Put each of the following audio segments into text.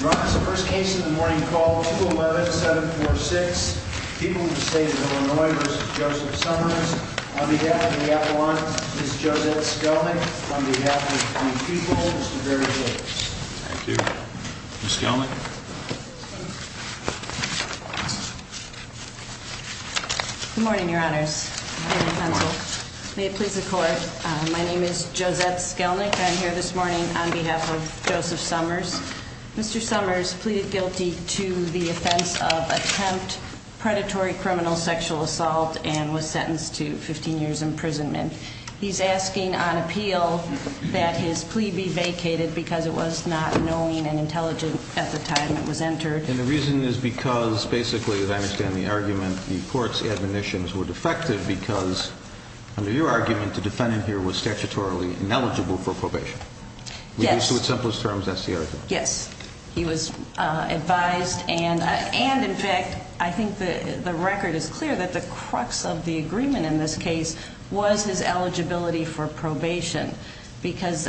Your Honor, this is the first case in the morning called 211-746, Pupil v. Illinois v. Joseph Summers. On behalf of the Appellant, Ms. Josette Skelnick. On behalf of the Pupil, Mr. Barry Tate. Thank you. Ms. Skelnick. Good morning, Your Honors. May it please the Court. My name is Josette Skelnick. I'm here this morning on behalf of Joseph Summers. Mr. Summers pleaded guilty to the offense of attempt predatory criminal sexual assault and was sentenced to 15 years imprisonment. He's asking on appeal that his plea be vacated because it was not knowing and intelligent at the time it was entered. And the reason is because basically, as I understand the argument, the court's admonitions were defective because under your argument, the defendant here was statutorily ineligible for probation. Yes. Reduced to its simplest terms, that's the argument. Yes. He was advised and in fact, I think the record is clear that the crux of the agreement in this case was his eligibility for probation because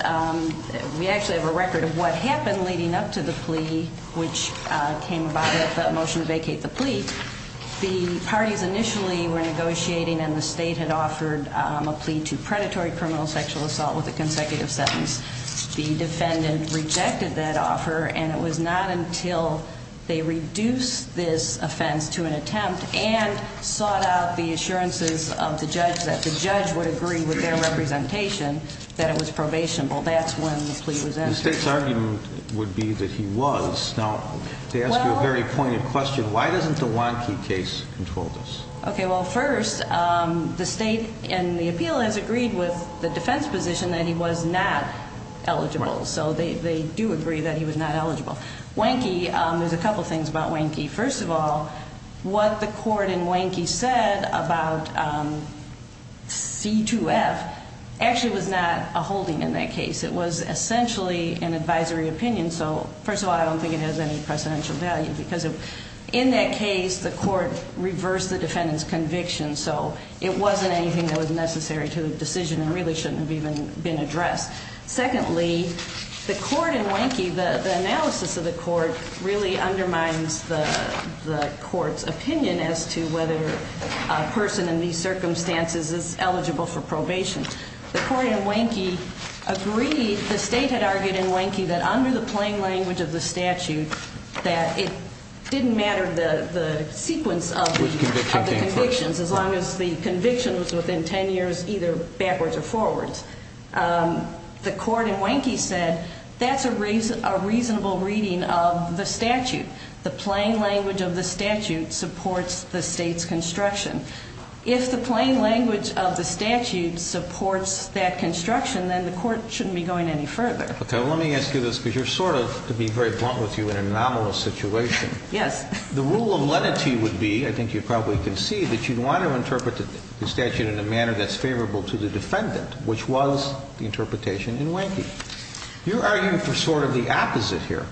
we actually have a record of what happened leading up to the plea, which came about with the motion to vacate the plea. The parties initially were negotiating and the state had offered a plea to predatory criminal sexual assault with a consecutive sentence. The defendant rejected that offer and it was not until they reduced this offense to an attempt and sought out the assurances of the judge that the judge would agree with their representation that it was probationable, that's when the plea was entered. The state's argument would be that he was. Now, to ask you a very pointed question, why doesn't the Warnke case control this? Okay, well first, the state in the appeal has agreed with the defense position that he was not eligible, so they do agree that he was not eligible. Warnke, there's a couple things about Warnke. First of all, what the court in Warnke said about C2F actually was not a holding in that case. It was essentially an advisory opinion, so first of all, I don't think it has any precedential value because in that case the court reversed the defendant's conviction, so it wasn't anything that was necessary to the decision and really shouldn't have even been addressed. Secondly, the court in Warnke, the analysis of the court really undermines the court's opinion as to whether a person in these circumstances is eligible for probation. The court in Warnke agreed, the state had argued in Warnke that under the plain language of the statute that it didn't matter the sequence of the convictions, as long as the conviction was within 10 years either backwards or forwards. The court in Warnke said that's a reasonable reading of the statute. The plain language of the statute supports the state's construction. If the plain language of the statute supports that construction, then the court shouldn't be going any further. Okay, let me ask you this because you're sort of, to be very blunt with you, in an anomalous situation. Yes. The rule of lenity would be, I think you probably can see, that you'd want to interpret the statute in a manner that's favorable to the defendant, which was the interpretation in Warnke. You're arguing for sort of the opposite here.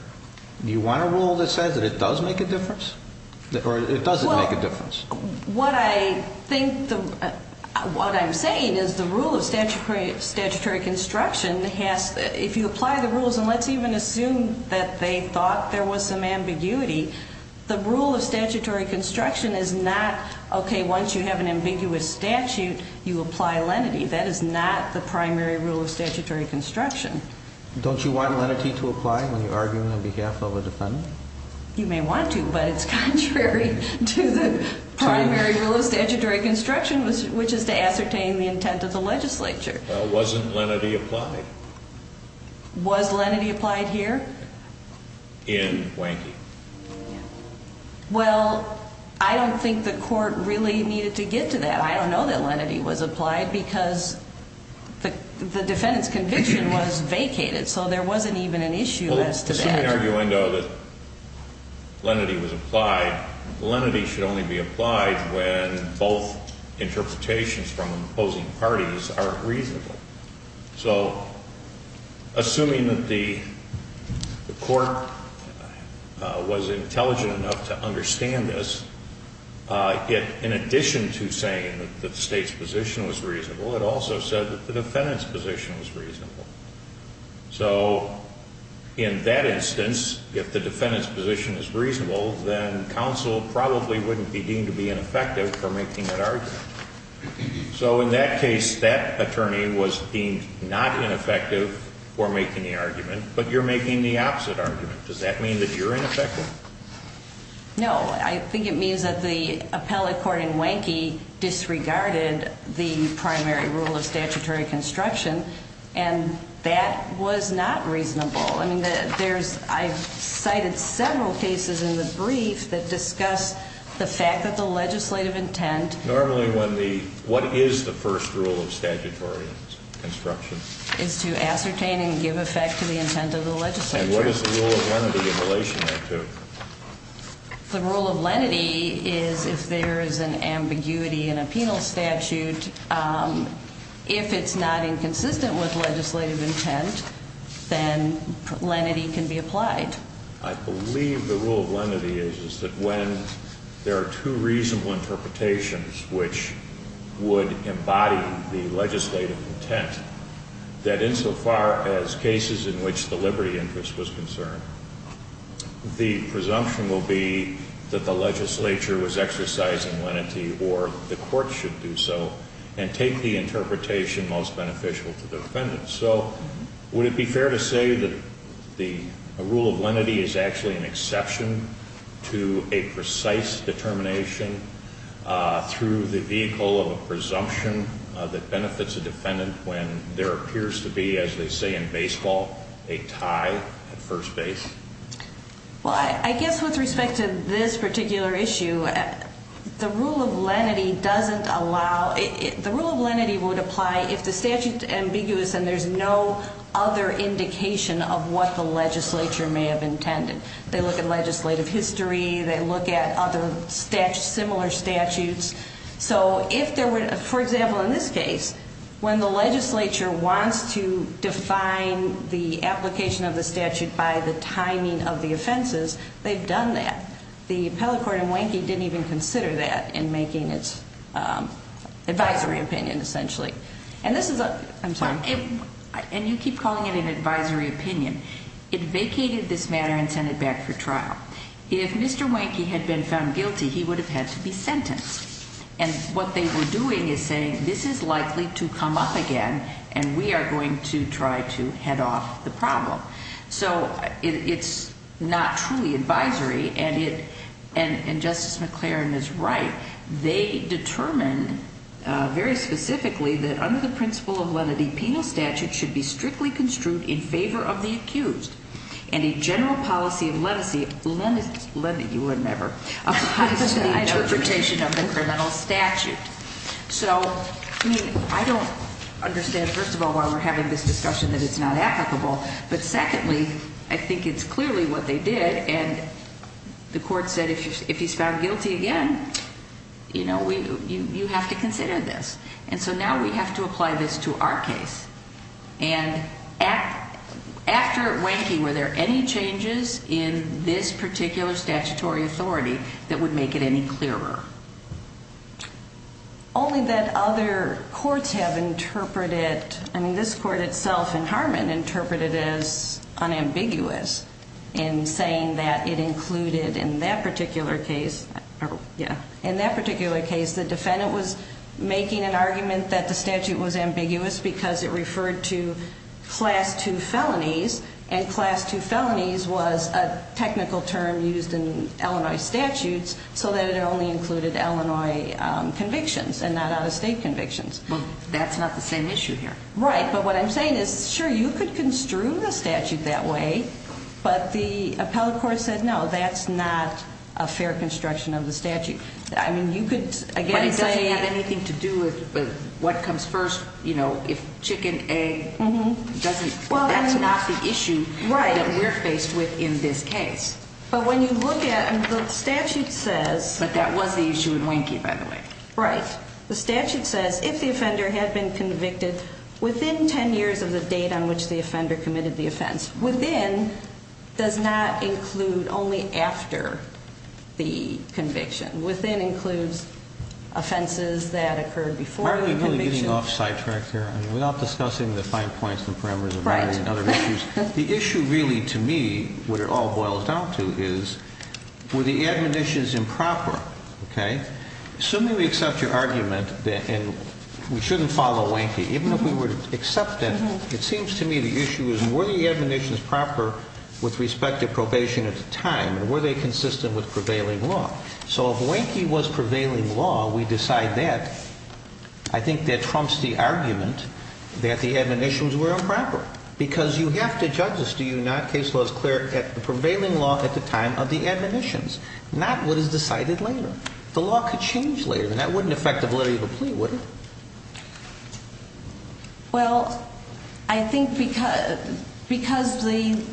Do you want a rule that says that it does make a difference or it doesn't make a difference? What I think, what I'm saying is the rule of statutory construction has, if you apply the rules and let's even assume that they thought there was some ambiguity, the rule of statutory construction is not, okay, once you have an ambiguous statute, you apply lenity. That is not the primary rule of statutory construction. Don't you want lenity to apply when you're arguing on behalf of a defendant? You may want to, but it's contrary to the primary rule of statutory construction, which is to ascertain the intent of the legislature. Well, wasn't lenity applied? Was lenity applied here? In Warnke. Well, I don't think the court really needed to get to that. I don't know that lenity was applied because the defendant's conviction was vacated, so there wasn't even an issue as to that. Assuming, though, that lenity was applied, lenity should only be applied when both interpretations from opposing parties are reasonable. So assuming that the court was intelligent enough to understand this, in addition to saying that the state's position was reasonable, it also said that the defendant's position was reasonable. So in that instance, if the defendant's position is reasonable, then counsel probably wouldn't be deemed to be ineffective for making that argument. So in that case, that attorney was deemed not ineffective for making the argument, but you're making the opposite argument. Does that mean that you're ineffective? No. I think it means that the appellate court in Warnke disregarded the primary rule of statutory construction and that was not reasonable. I've cited several cases in the brief that discuss the fact that the legislative intent Normally, what is the first rule of statutory construction? is to ascertain and give effect to the intent of the legislature. And what is the rule of lenity in relation to that? The rule of lenity is if there is an ambiguity in a penal statute, if it's not inconsistent with legislative intent, then lenity can be applied. I believe the rule of lenity is that when there are two reasonable interpretations which would embody the legislative intent, that insofar as cases in which the liberty interest was concerned, the presumption will be that the legislature was exercising lenity or the court should do so and take the interpretation most beneficial to the defendant. So would it be fair to say that the rule of lenity is actually an exception to a precise determination through the vehicle of a presumption that benefits a defendant when there appears to be, as they say in baseball, a tie at first base? Well, I guess with respect to this particular issue, the rule of lenity would apply if the statute is ambiguous and there's no other indication of what the legislature may have intended. They look at legislative history, they look at other similar statutes. So if there were, for example in this case, when the legislature wants to define the application of the statute by the timing of the offenses, they've done that. The appellate court in Wanky didn't even consider that in making its advisory opinion essentially. And this is a, I'm sorry. And you keep calling it an advisory opinion. It vacated this matter and sent it back for trial. If Mr. Wanky had been found guilty, he would have had to be sentenced. And what they were doing is saying this is likely to come up again and we are going to try to head off the problem. So it's not truly advisory, and Justice McClaren is right. They determined very specifically that under the principle of lenity, penal statute should be strictly construed in favor of the accused. And a general policy of lenity, you wouldn't ever, applies to the interpretation of the criminal statute. So, I mean, I don't understand, first of all, why we're having this discussion that it's not applicable. But secondly, I think it's clearly what they did. And the court said if he's found guilty again, you know, you have to consider this. And so now we have to apply this to our case. And after Wanky, were there any changes in this particular statutory authority that would make it any clearer? Only that other courts have interpreted, I mean, this court itself and Harmon interpreted it as unambiguous in saying that it included in that particular case, yeah, in that particular case the defendant was making an argument that the statute was ambiguous because it referred to Class II felonies, and Class II felonies was a technical term used in Illinois statutes so that it only included Illinois convictions and not out-of-state convictions. Well, that's not the same issue here. Right, but what I'm saying is, sure, you could construe the statute that way, but the appellate court said no, that's not a fair construction of the statute. But it doesn't have anything to do with what comes first, you know, if Chicken A doesn't, that's not the issue that we're faced with in this case. But when you look at, the statute says... But that was the issue in Wanky, by the way. Right. The statute says if the offender had been convicted within 10 years of the date on which the offender committed the offense, within does not include only after the conviction. Within includes offenses that occurred before the conviction. Are we really getting off-site track here? Without discussing the fine points and parameters of Wanky and other issues, the issue really, to me, what it all boils down to is, were the admonitions improper? Okay? Assuming we accept your argument that we shouldn't follow Wanky, even if we were to accept that, it seems to me the issue is, were the admonitions proper with respect to probation at the time, and were they consistent with prevailing law? So if Wanky was prevailing law, we decide that. I think that trumps the argument that the admonitions were improper, because you have to judge this, do you not? Case law is clear that the prevailing law at the time of the admonitions, not what is decided later. The law could change later, and that wouldn't affect the validity of a plea, would it? Well, I think because the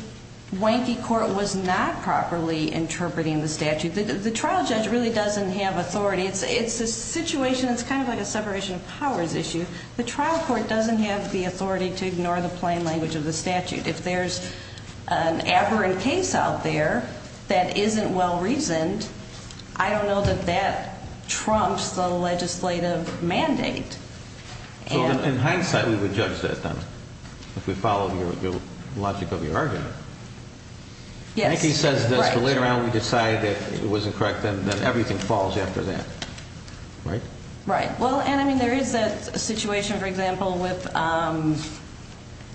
Wanky court was not properly interpreting the statute, the trial judge really doesn't have authority. It's a situation that's kind of like a separation of powers issue. The trial court doesn't have the authority to ignore the plain language of the statute. If there's an aberrant case out there that isn't well-reasoned, I don't know that that trumps the legislative mandate. In hindsight, we would judge that, then, if we followed the logic of your argument. Yes. Wanky says that later on we decide that it wasn't correct, and then everything falls after that, right? Right. Well, and I mean there is a situation, for example, with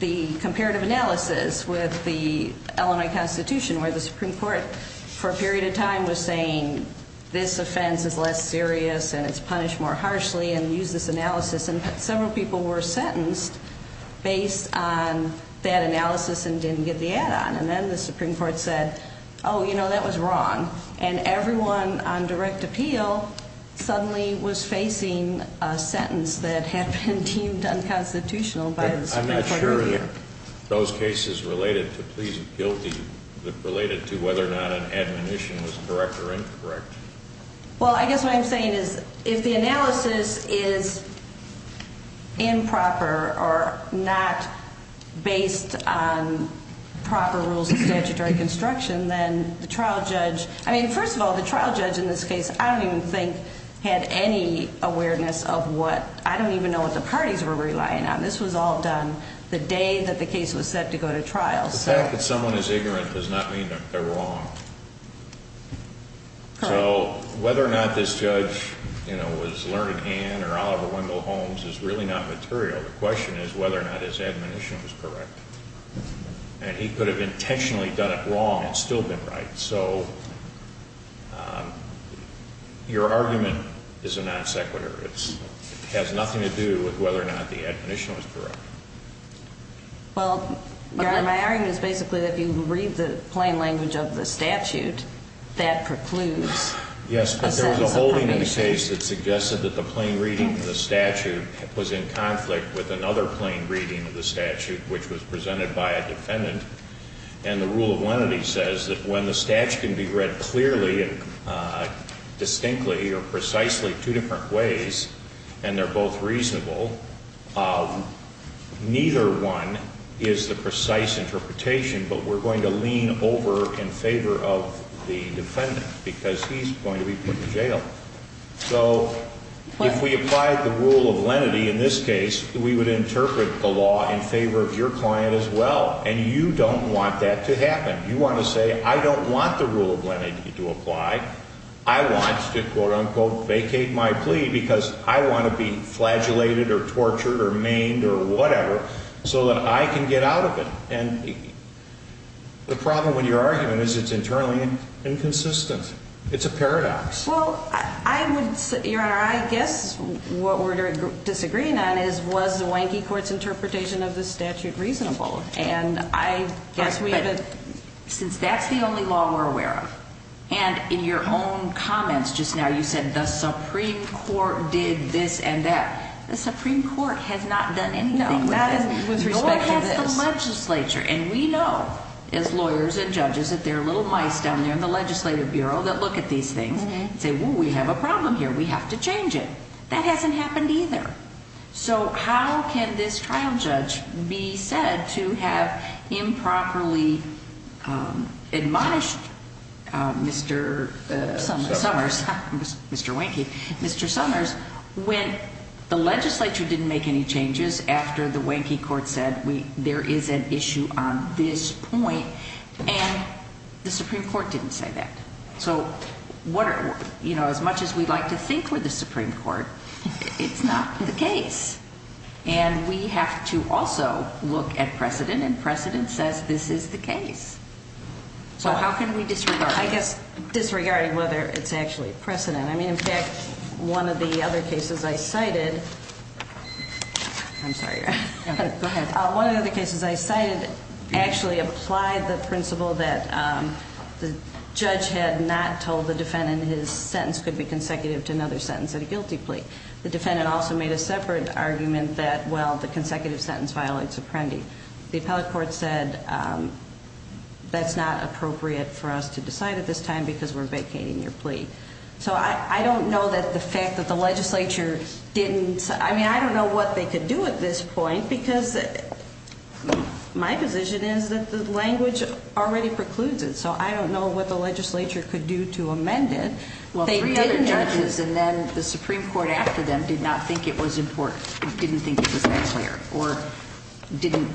the comparative analysis with the Illinois Constitution where the Supreme Court, for a period of time, was saying this offense is less serious and it's punished more harshly and use this analysis, and several people were sentenced based on that analysis and didn't get the add-on. And then the Supreme Court said, oh, you know, that was wrong, and everyone on direct appeal suddenly was facing a sentence I'm not sure those cases related to whether or not an admonition was correct or incorrect. Well, I guess what I'm saying is if the analysis is improper or not based on proper rules of statutory construction, then the trial judge, I mean, first of all, the trial judge in this case I don't even think had any awareness of what, I don't even know what the parties were relying on. This was all done the day that the case was set to go to trial. The fact that someone is ignorant does not mean that they're wrong. Correct. So whether or not this judge, you know, was learned hand or Oliver Wendell Holmes is really not material. The question is whether or not his admonition was correct. And he could have intentionally done it wrong and still been right. So your argument is a non sequitur. It has nothing to do with whether or not the admonition was correct. Well, my argument is basically that if you read the plain language of the statute, that precludes a sentence of probation. Yes, but there was a holding in the case that suggested that the plain reading of the statute was in conflict with another plain reading of the statute, which was presented by a defendant. And the rule of lenity says that when the statute can be read clearly and distinctly or precisely two different ways and they're both reasonable, neither one is the precise interpretation. But we're going to lean over in favor of the defendant because he's going to be put in jail. So if we applied the rule of lenity in this case, we would interpret the law in favor of your client as well. And you don't want that to happen. You want to say I don't want the rule of lenity to apply. I want to, quote, unquote, vacate my plea because I want to be flagellated or tortured or maimed or whatever so that I can get out of it. And the problem with your argument is it's internally inconsistent. It's a paradox. Well, I would say, Your Honor, I guess what we're disagreeing on is was the wanky court's interpretation of the statute reasonable. But since that's the only law we're aware of, and in your own comments just now you said the Supreme Court did this and that, the Supreme Court has not done anything about it. No one has the legislature. And we know as lawyers and judges that there are little mice down there in the legislative bureau that look at these things and say, well, we have a problem here. We have to change it. That hasn't happened either. So how can this trial judge be said to have improperly admonished Mr. Summers, Mr. Wanky, Mr. Summers when the legislature didn't make any changes after the wanky court said there is an issue on this point and the Supreme Court didn't say that. So as much as we'd like to think we're the Supreme Court, it's not the case. And we have to also look at precedent, and precedent says this is the case. So how can we disregard it? I guess disregarding whether it's actually precedent. I mean, in fact, one of the other cases I cited actually applied the principle that the judge had not told the defendant his sentence could be consecutive to another sentence at a guilty plea. The defendant also made a separate argument that, well, the consecutive sentence violates apprendi. The appellate court said that's not appropriate for us to decide at this time because we're vacating your plea. So I don't know that the fact that the legislature didn't, I mean, I don't know what they could do at this point because my position is that the language already precludes it. So I don't know what the legislature could do to amend it. Well, three other judges and then the Supreme Court after them did not think it was important, didn't think it was necessary or didn't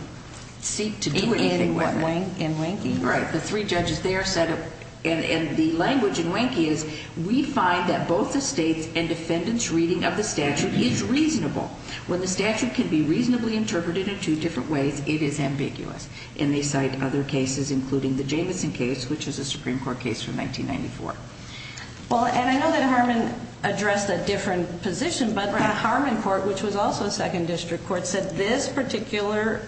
seek to do anything in wanking. Right. The three judges there said, and the language in wanking is we find that both the state's and defendant's reading of the statute is reasonable. When the statute can be reasonably interpreted in two different ways, it is ambiguous. And they cite other cases, including the Jamison case, which is a Supreme Court case from 1994. Well, and I know that Harmon addressed a different position, but Harmon court, which was also a second district court, said this particular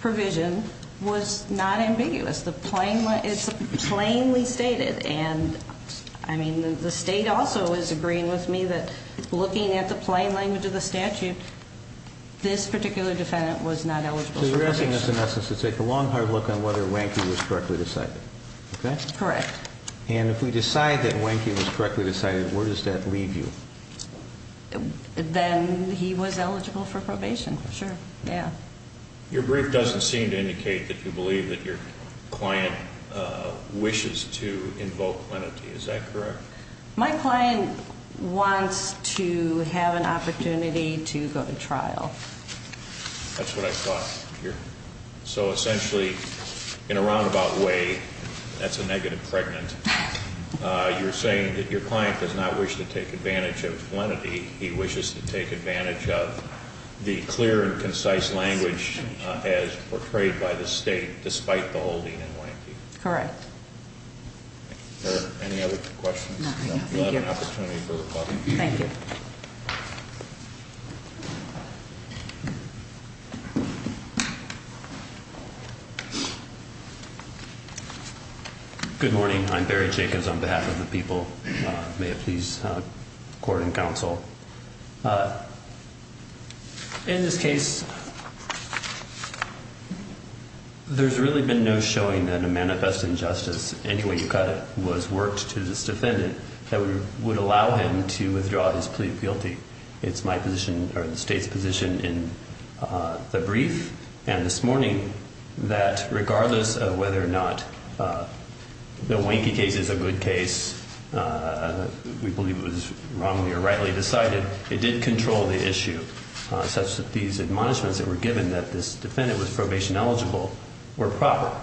provision was not ambiguous. It's plainly stated. And I mean, the state also is agreeing with me that looking at the plain language of the statute, this particular defendant was not eligible for probation. So you're asking us in essence to take a long hard look on whether wanking was correctly decided. Okay. Correct. And if we decide that wanking was correctly decided, where does that leave you? Then he was eligible for probation for sure. Yeah. Your brief doesn't seem to indicate that you believe that your client wishes to invoke lenity. Is that correct? My client wants to have an opportunity to go to trial. That's what I thought. So essentially, in a roundabout way, that's a negative pregnant. You're saying that your client does not wish to take advantage of lenity. He wishes to take advantage of the clear and concise language as portrayed by the state, despite the holding and wanking. Correct. Are there any other questions? No. Thank you. Thank you. Good morning. I'm Barry Jacobs on behalf of the people. May it please court and counsel. In this case, there's really been no showing that a manifest injustice anyway was worked to this defendant that would allow him to withdraw his plea guilty. It's my position or the state's position in the brief. And this morning that regardless of whether or not the winky case is a good case, we believe it was wrongly or rightly decided. It did control the issue such that these admonishments that were given that this defendant was probation eligible were proper.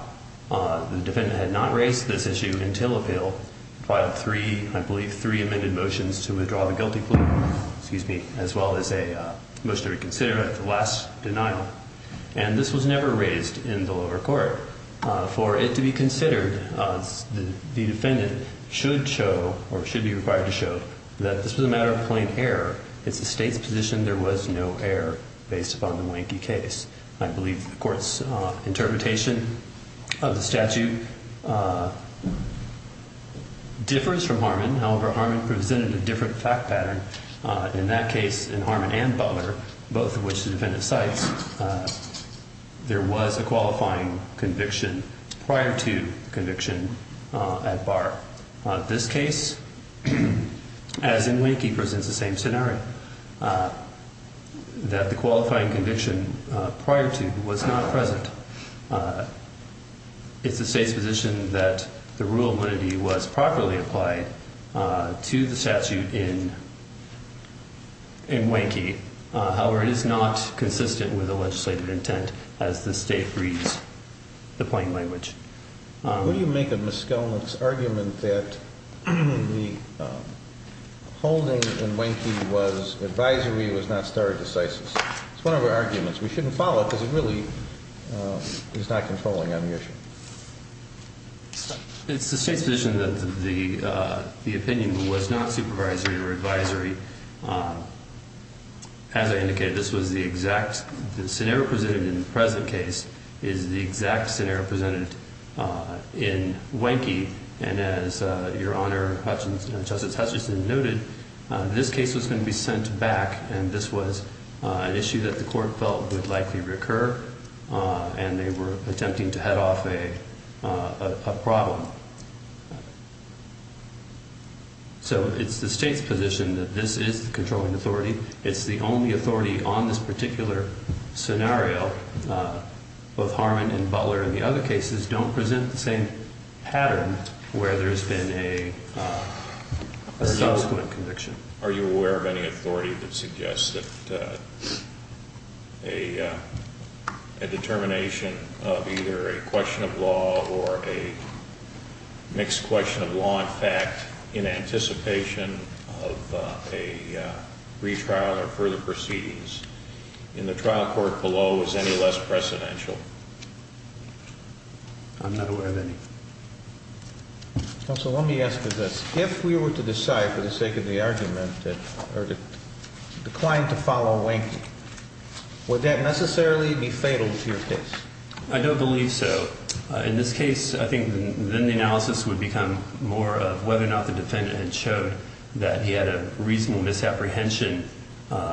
The defendant had not raised this issue until appeal, filed three, I believe, three amended motions to withdraw the guilty plea, as well as a motion to reconsider the last denial. And this was never raised in the lower court. For it to be considered, the defendant should show or should be required to show that this was a matter of plain error. It's the state's position there was no error based upon the wanky case. I believe the court's interpretation of the statute differs from Harmon. However, Harmon presented a different fact pattern. In that case, in Harmon and Butler, both of which the defendant cites, there was a qualifying conviction prior to conviction at bar. This case, as in winky, presents the same scenario, that the qualifying conviction prior to was not present. It's the state's position that the rule of limited was properly applied to the statute in wanky. However, it is not consistent with the legislative intent as the state reads the plain language. Who do you make of Ms. Skelman's argument that the holding in wanky was advisory, was not stare decisis? It's one of our arguments. We shouldn't follow it because it really is not controlling on the issue. It's the state's position that the opinion was not supervisory or advisory. As I indicated, this was the exact scenario presented in the present case is the exact scenario presented in wanky. And as Your Honor, Justice Hutchinson noted, this case was going to be sent back. And this was an issue that the court felt would likely recur. And they were attempting to head off a problem. So it's the state's position that this is the controlling authority. It's the only authority on this particular scenario. Both Harmon and Butler and the other cases don't present the same pattern where there has been a subsequent conviction. Are you aware of any authority that suggests that a determination of either a question of law or a mixed question of law and fact in anticipation of a retrial or further proceedings in the trial court below is any less precedential? I'm not aware of any. Counsel, let me ask you this. If we were to decide for the sake of the argument that the client to follow wanky, would that necessarily be fatal to your case? I don't believe so. In this case, I think then the analysis would become more of whether or not the defendant had showed that he had a reasonable misapprehension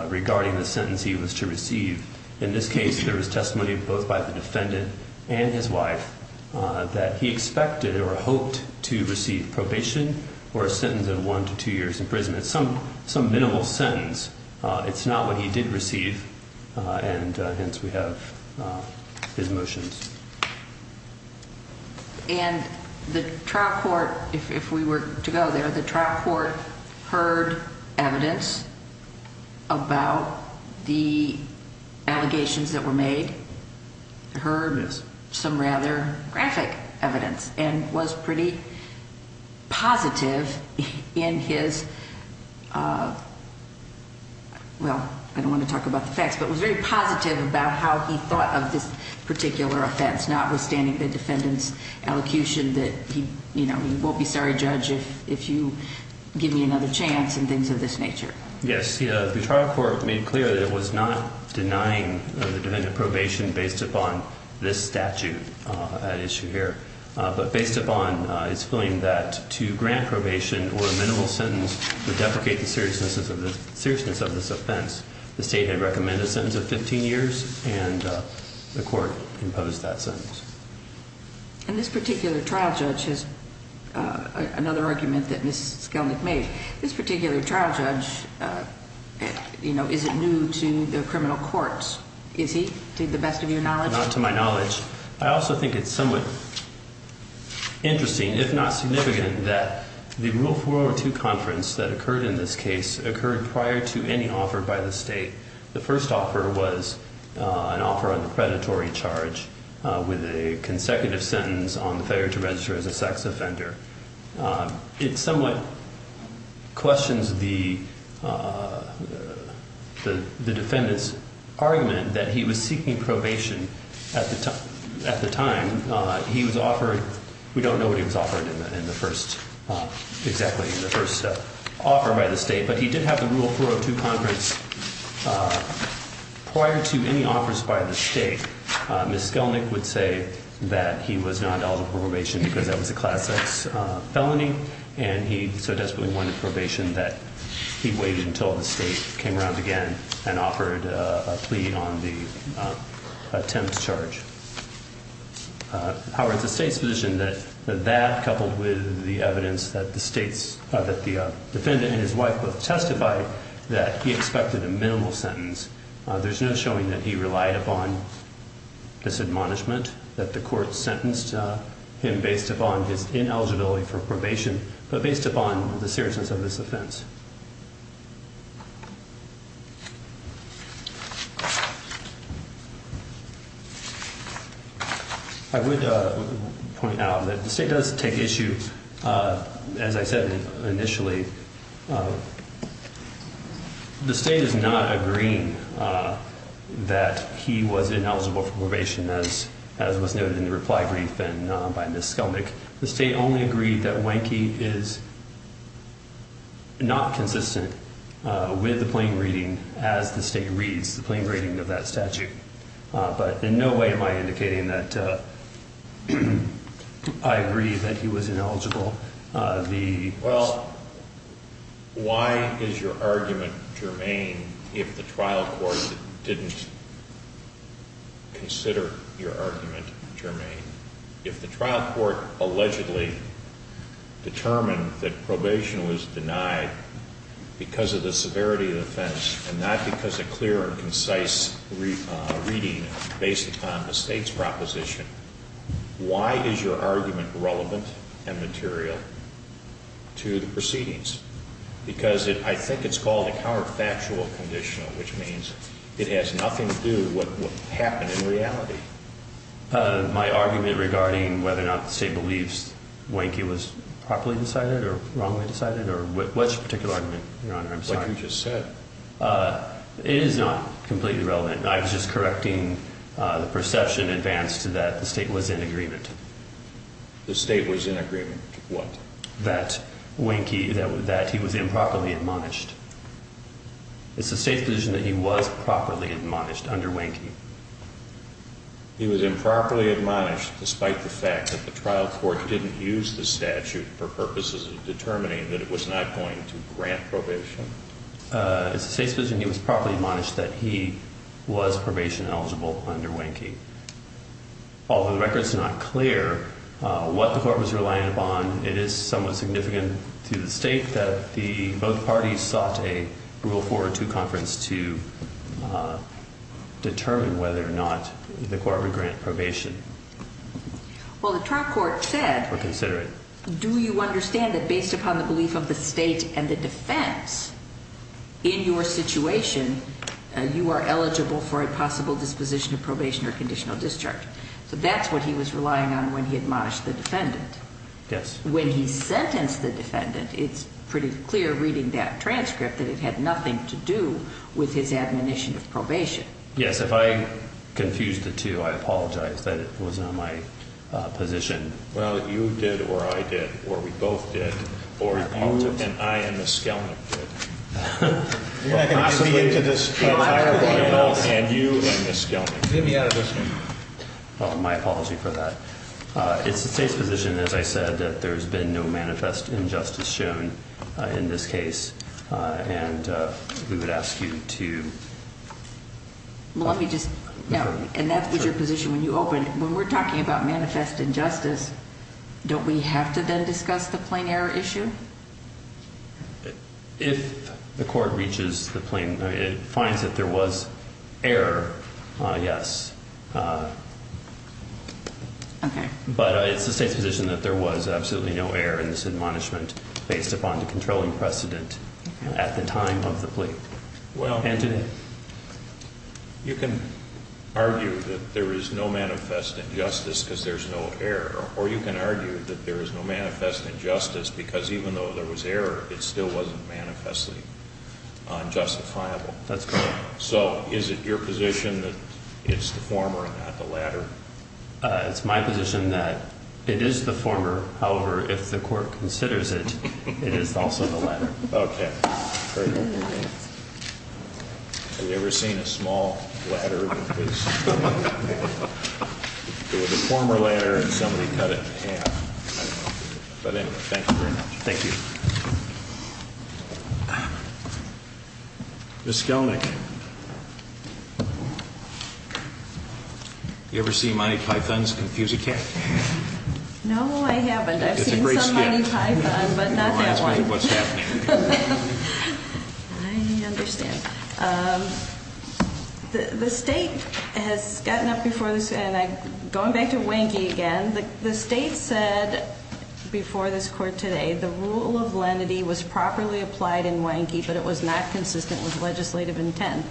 regarding the sentence he was to receive. In this case, there was testimony both by the defendant and his wife that he expected or hoped to receive probation or a sentence of one to two years in prison. It's some minimal sentence. It's not what he did receive. And hence, we have his motions. And the trial court, if we were to go there, the trial court heard evidence about the allegations that were made. Heard some rather graphic evidence and was pretty positive in his, well, I don't want to talk about the facts, but was very positive about how he thought of this particular offense, notwithstanding the defendant's elocution that he won't be sorry, judge, if you give me another chance and things of this nature. Yes, the trial court made clear that it was not denying the defendant probation based upon this statute at issue here, but based upon his feeling that to grant probation or a minimal sentence would deprecate the seriousness of this offense. The state had recommended a sentence of 15 years, and the court imposed that sentence. And this particular trial judge has another argument that Miss Skelnick made. This particular trial judge, you know, is it new to the criminal courts? Is he, to the best of your knowledge? Not to my knowledge. I also think it's somewhat interesting, if not significant, that the Rule 402 conference that occurred in this case occurred prior to any offer by the state. The first offer was an offer on the predatory charge with a consecutive sentence on failure to register as a sex offender. It somewhat questions the defendant's argument that he was seeking probation at the time. He was offered, we don't know what he was offered in the first, exactly in the first offer by the state, but he did have the Rule 402 conference prior to any offers by the state. Miss Skelnick would say that he was not eligible for probation because that was a Class X felony, and he so desperately wanted probation that he waited until the state came around again and offered a plea on the attempt to charge. However, it's the state's position that that, coupled with the evidence that the defendant and his wife both testified, that he expected a minimal sentence. There's no showing that he relied upon this admonishment, that the court sentenced him based upon his ineligibility for probation, but based upon the seriousness of this offense. I would point out that the state does take issue, as I said initially, the state is not agreeing that he was ineligible for probation, as was noted in the reply brief by Miss Skelnick. The state only agreed that Wanky is not consistent with the plain reading as the state reads the plain reading of that statute. But in no way am I indicating that I agree that he was ineligible. Well, why is your argument germane if the trial court didn't consider your argument germane? If the trial court allegedly determined that probation was denied because of the severity of the offense and not because of clear and concise reading based upon the state's proposition, why is your argument relevant and material to the proceedings? Because I think it's called a counterfactual conditional, which means it has nothing to do with what happened in reality. My argument regarding whether or not the state believes Wanky was properly decided or wrongly decided or which particular argument, Your Honor, I'm sorry. Like you just said. It is not completely relevant. I was just correcting the perception advanced to that the state was in agreement. The state was in agreement with what? That Wanky, that he was improperly admonished. It's the state's position that he was properly admonished under Wanky. He was improperly admonished despite the fact that the trial court didn't use the statute for purposes of determining that it was not going to grant probation. It's the state's position he was properly admonished that he was probation eligible under Wanky. Although the record is not clear what the court was relying upon, it is somewhat significant to the state that both parties sought a rule four or two conference to determine whether or not the court would grant probation. Well, the trial court said. Consider it. Do you understand that based upon the belief of the state and the defense in your situation, you are eligible for a possible disposition of probation or conditional discharge? So that's what he was relying on when he admonished the defendant. Yes. When he sentenced the defendant, it's pretty clear reading that transcript that it had nothing to do with his admonition of probation. Yes. If I confuse the two, I apologize that it was on my position. Well, you did or I did or we both did or you and I and Ms. Skelman did. You're not going to get me into this trial. And you and Ms. Skelman. Get me out of this. Oh, my apology for that. It's the state's position, as I said, that there's been no manifest injustice shown in this case. And we would ask you to. Let me just know. And that's your position when you open when we're talking about manifest injustice. Don't we have to then discuss the plain error issue? If the court reaches the plane, it finds that there was error. Yes. Okay. But it's the state's position that there was absolutely no error in this admonishment based upon the controlling precedent at the time of the plea. Well, you can argue that there is no manifest injustice because there's no error. Or you can argue that there is no manifest injustice because even though there was error, it still wasn't manifestly unjustifiable. That's correct. So is it your position that it's the former and not the latter? It's my position that it is the former. However, if the court considers it, it is also the latter. Okay. I've never seen a small ladder. It was a former ladder and somebody cut it in half. But anyway, thank you very much. Thank you. Ms. Skelnick, have you ever seen Monty Python's Confuse-a-Cat? No, I haven't. I've seen some Monty Python, but not that one. I understand. The state has gotten up before this, and going back to Wanky again, the state said before this court today the rule of lenity was properly applied in Wanky, but it was not consistent with legislative intent.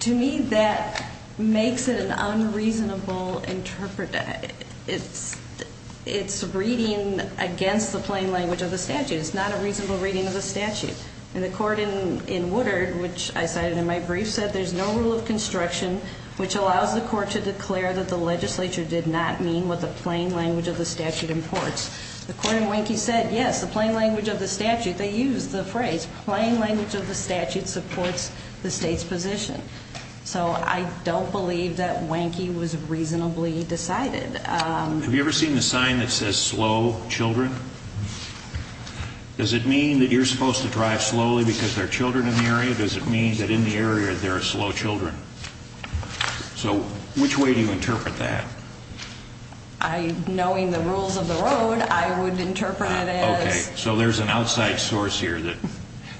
To me, that makes it an unreasonable interpretation. It's reading against the plain language of the statute. It's not a reasonable reading of the statute. And the court in Woodard, which I cited in my brief, said there's no rule of construction which allows the court to declare that the legislature did not mean what the plain language of the statute imports. The court in Wanky said yes, the plain language of the statute. They used the phrase plain language of the statute supports the state's position. So I don't believe that Wanky was reasonably decided. Have you ever seen the sign that says slow children? Does it mean that you're supposed to drive slowly because there are children in the area? Does it mean that in the area there are slow children? So which way do you interpret that? Knowing the rules of the road, I would interpret it as. Okay. So there's an outside source here.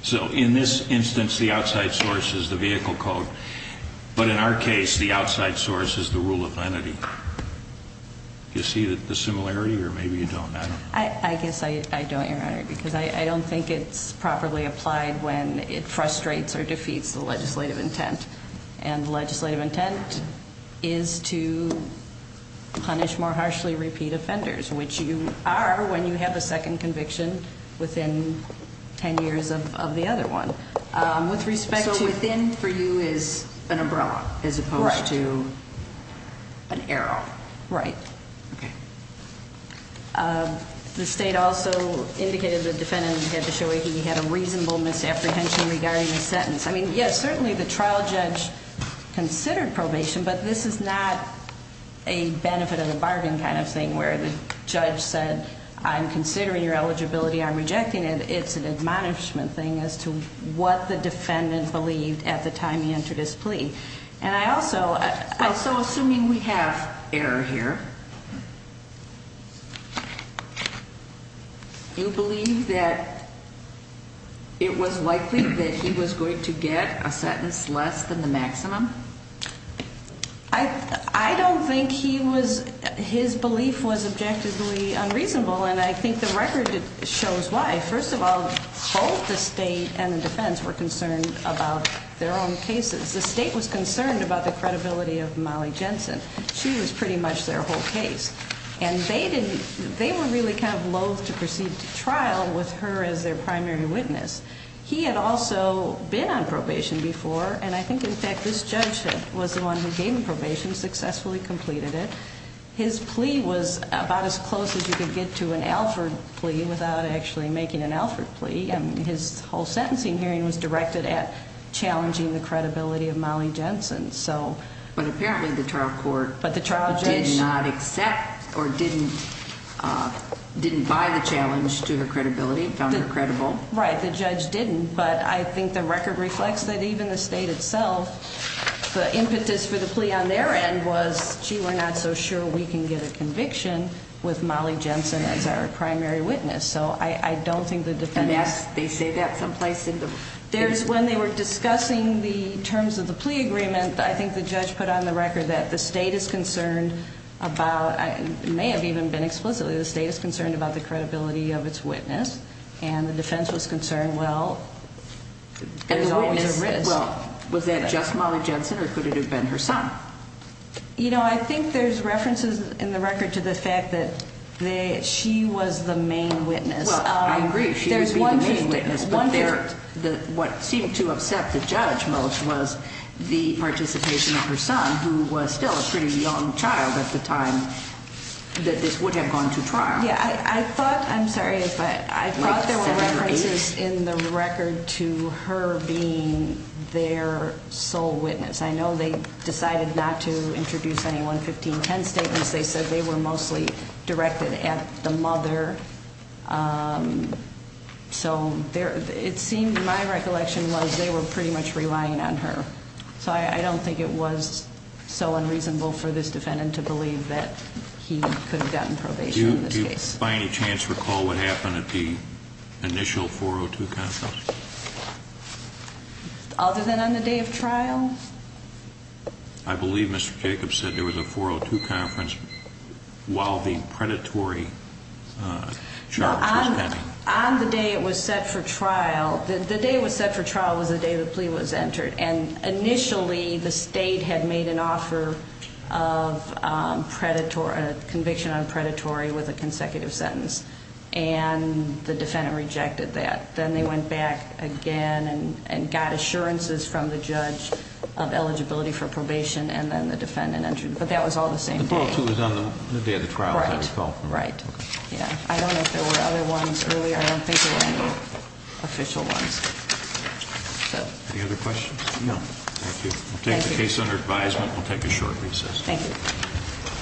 So in this instance, the outside source is the vehicle code. But in our case, the outside source is the rule of lenity. Do you see the similarity or maybe you don't? I guess I don't, Your Honor, because I don't think it's properly applied when it frustrates or defeats the legislative intent. And legislative intent is to punish more harshly repeat offenders, which you are when you have a second conviction within ten years of the other one. With respect to. So within for you is an umbrella as opposed to an arrow. Right. Okay. The state also indicated the defendant had to show he had a reasonable misapprehension regarding the sentence. I mean, yes, certainly the trial judge considered probation, but this is not a benefit of the bargain kind of thing where the judge said I'm considering your eligibility, I'm rejecting it. It's an admonishment thing as to what the defendant believed at the time he entered his plea. And I also. So assuming we have error here. Do you believe that it was likely that he was going to get a sentence less than the maximum? I don't think he was. His belief was objectively unreasonable, and I think the record shows why. First of all, both the state and the defense were concerned about their own cases. The state was concerned about the credibility of Molly Jensen. She was pretty much their whole case. And they were really kind of loathe to proceed to trial with her as their primary witness. He had also been on probation before, and I think, in fact, this judge was the one who gave him probation, successfully completed it. His plea was about as close as you could get to an Alford plea without actually making an Alford plea. And his whole sentencing hearing was directed at challenging the credibility of Molly Jensen, so. But apparently the trial court- But the trial judge- Did not accept or didn't buy the challenge to her credibility, found her credible. Right, the judge didn't. But I think the record reflects that even the state itself, the impetus for the plea on their end was, gee, we're not so sure we can get a conviction with Molly Jensen as our primary witness. So I don't think the defense- And they say that someplace in the- When they were discussing the terms of the plea agreement, I think the judge put on the record that the state is concerned about, it may have even been explicitly, the state is concerned about the credibility of its witness. And the defense was concerned, well, there's always a risk. Well, was that just Molly Jensen, or could it have been her son? You know, I think there's references in the record to the fact that she was the main witness. Well, I agree, she was the main witness. But what seemed to upset the judge most was the participation of her son, who was still a pretty young child at the time that this would have gone to trial. Yeah, I thought, I'm sorry if I- Like seven or eight? I thought there were references in the record to her being their sole witness. I know they decided not to introduce any 11510 statements. They said they were mostly directed at the mother. So it seemed, in my recollection, was they were pretty much relying on her. So I don't think it was so unreasonable for this defendant to believe that he could have gotten probation in this case. Do you by any chance recall what happened at the initial 402 counsel? Other than on the day of trial? I believe Mr. Jacobs said there was a 402 conference while the predatory charge was pending. No, on the day it was set for trial. The day it was set for trial was the day the plea was entered, and initially the state had made an offer of conviction on predatory with a consecutive sentence, and the defendant rejected that. Then they went back again and got assurances from the judge of eligibility for probation, and then the defendant entered. But that was all the same day. The 402 was on the day of the trial, as I recall. Right. I don't know if there were other ones earlier. I don't think there were any official ones. Any other questions? No. Thank you. We'll take the case under advisement. We'll take a short recess. Thank you.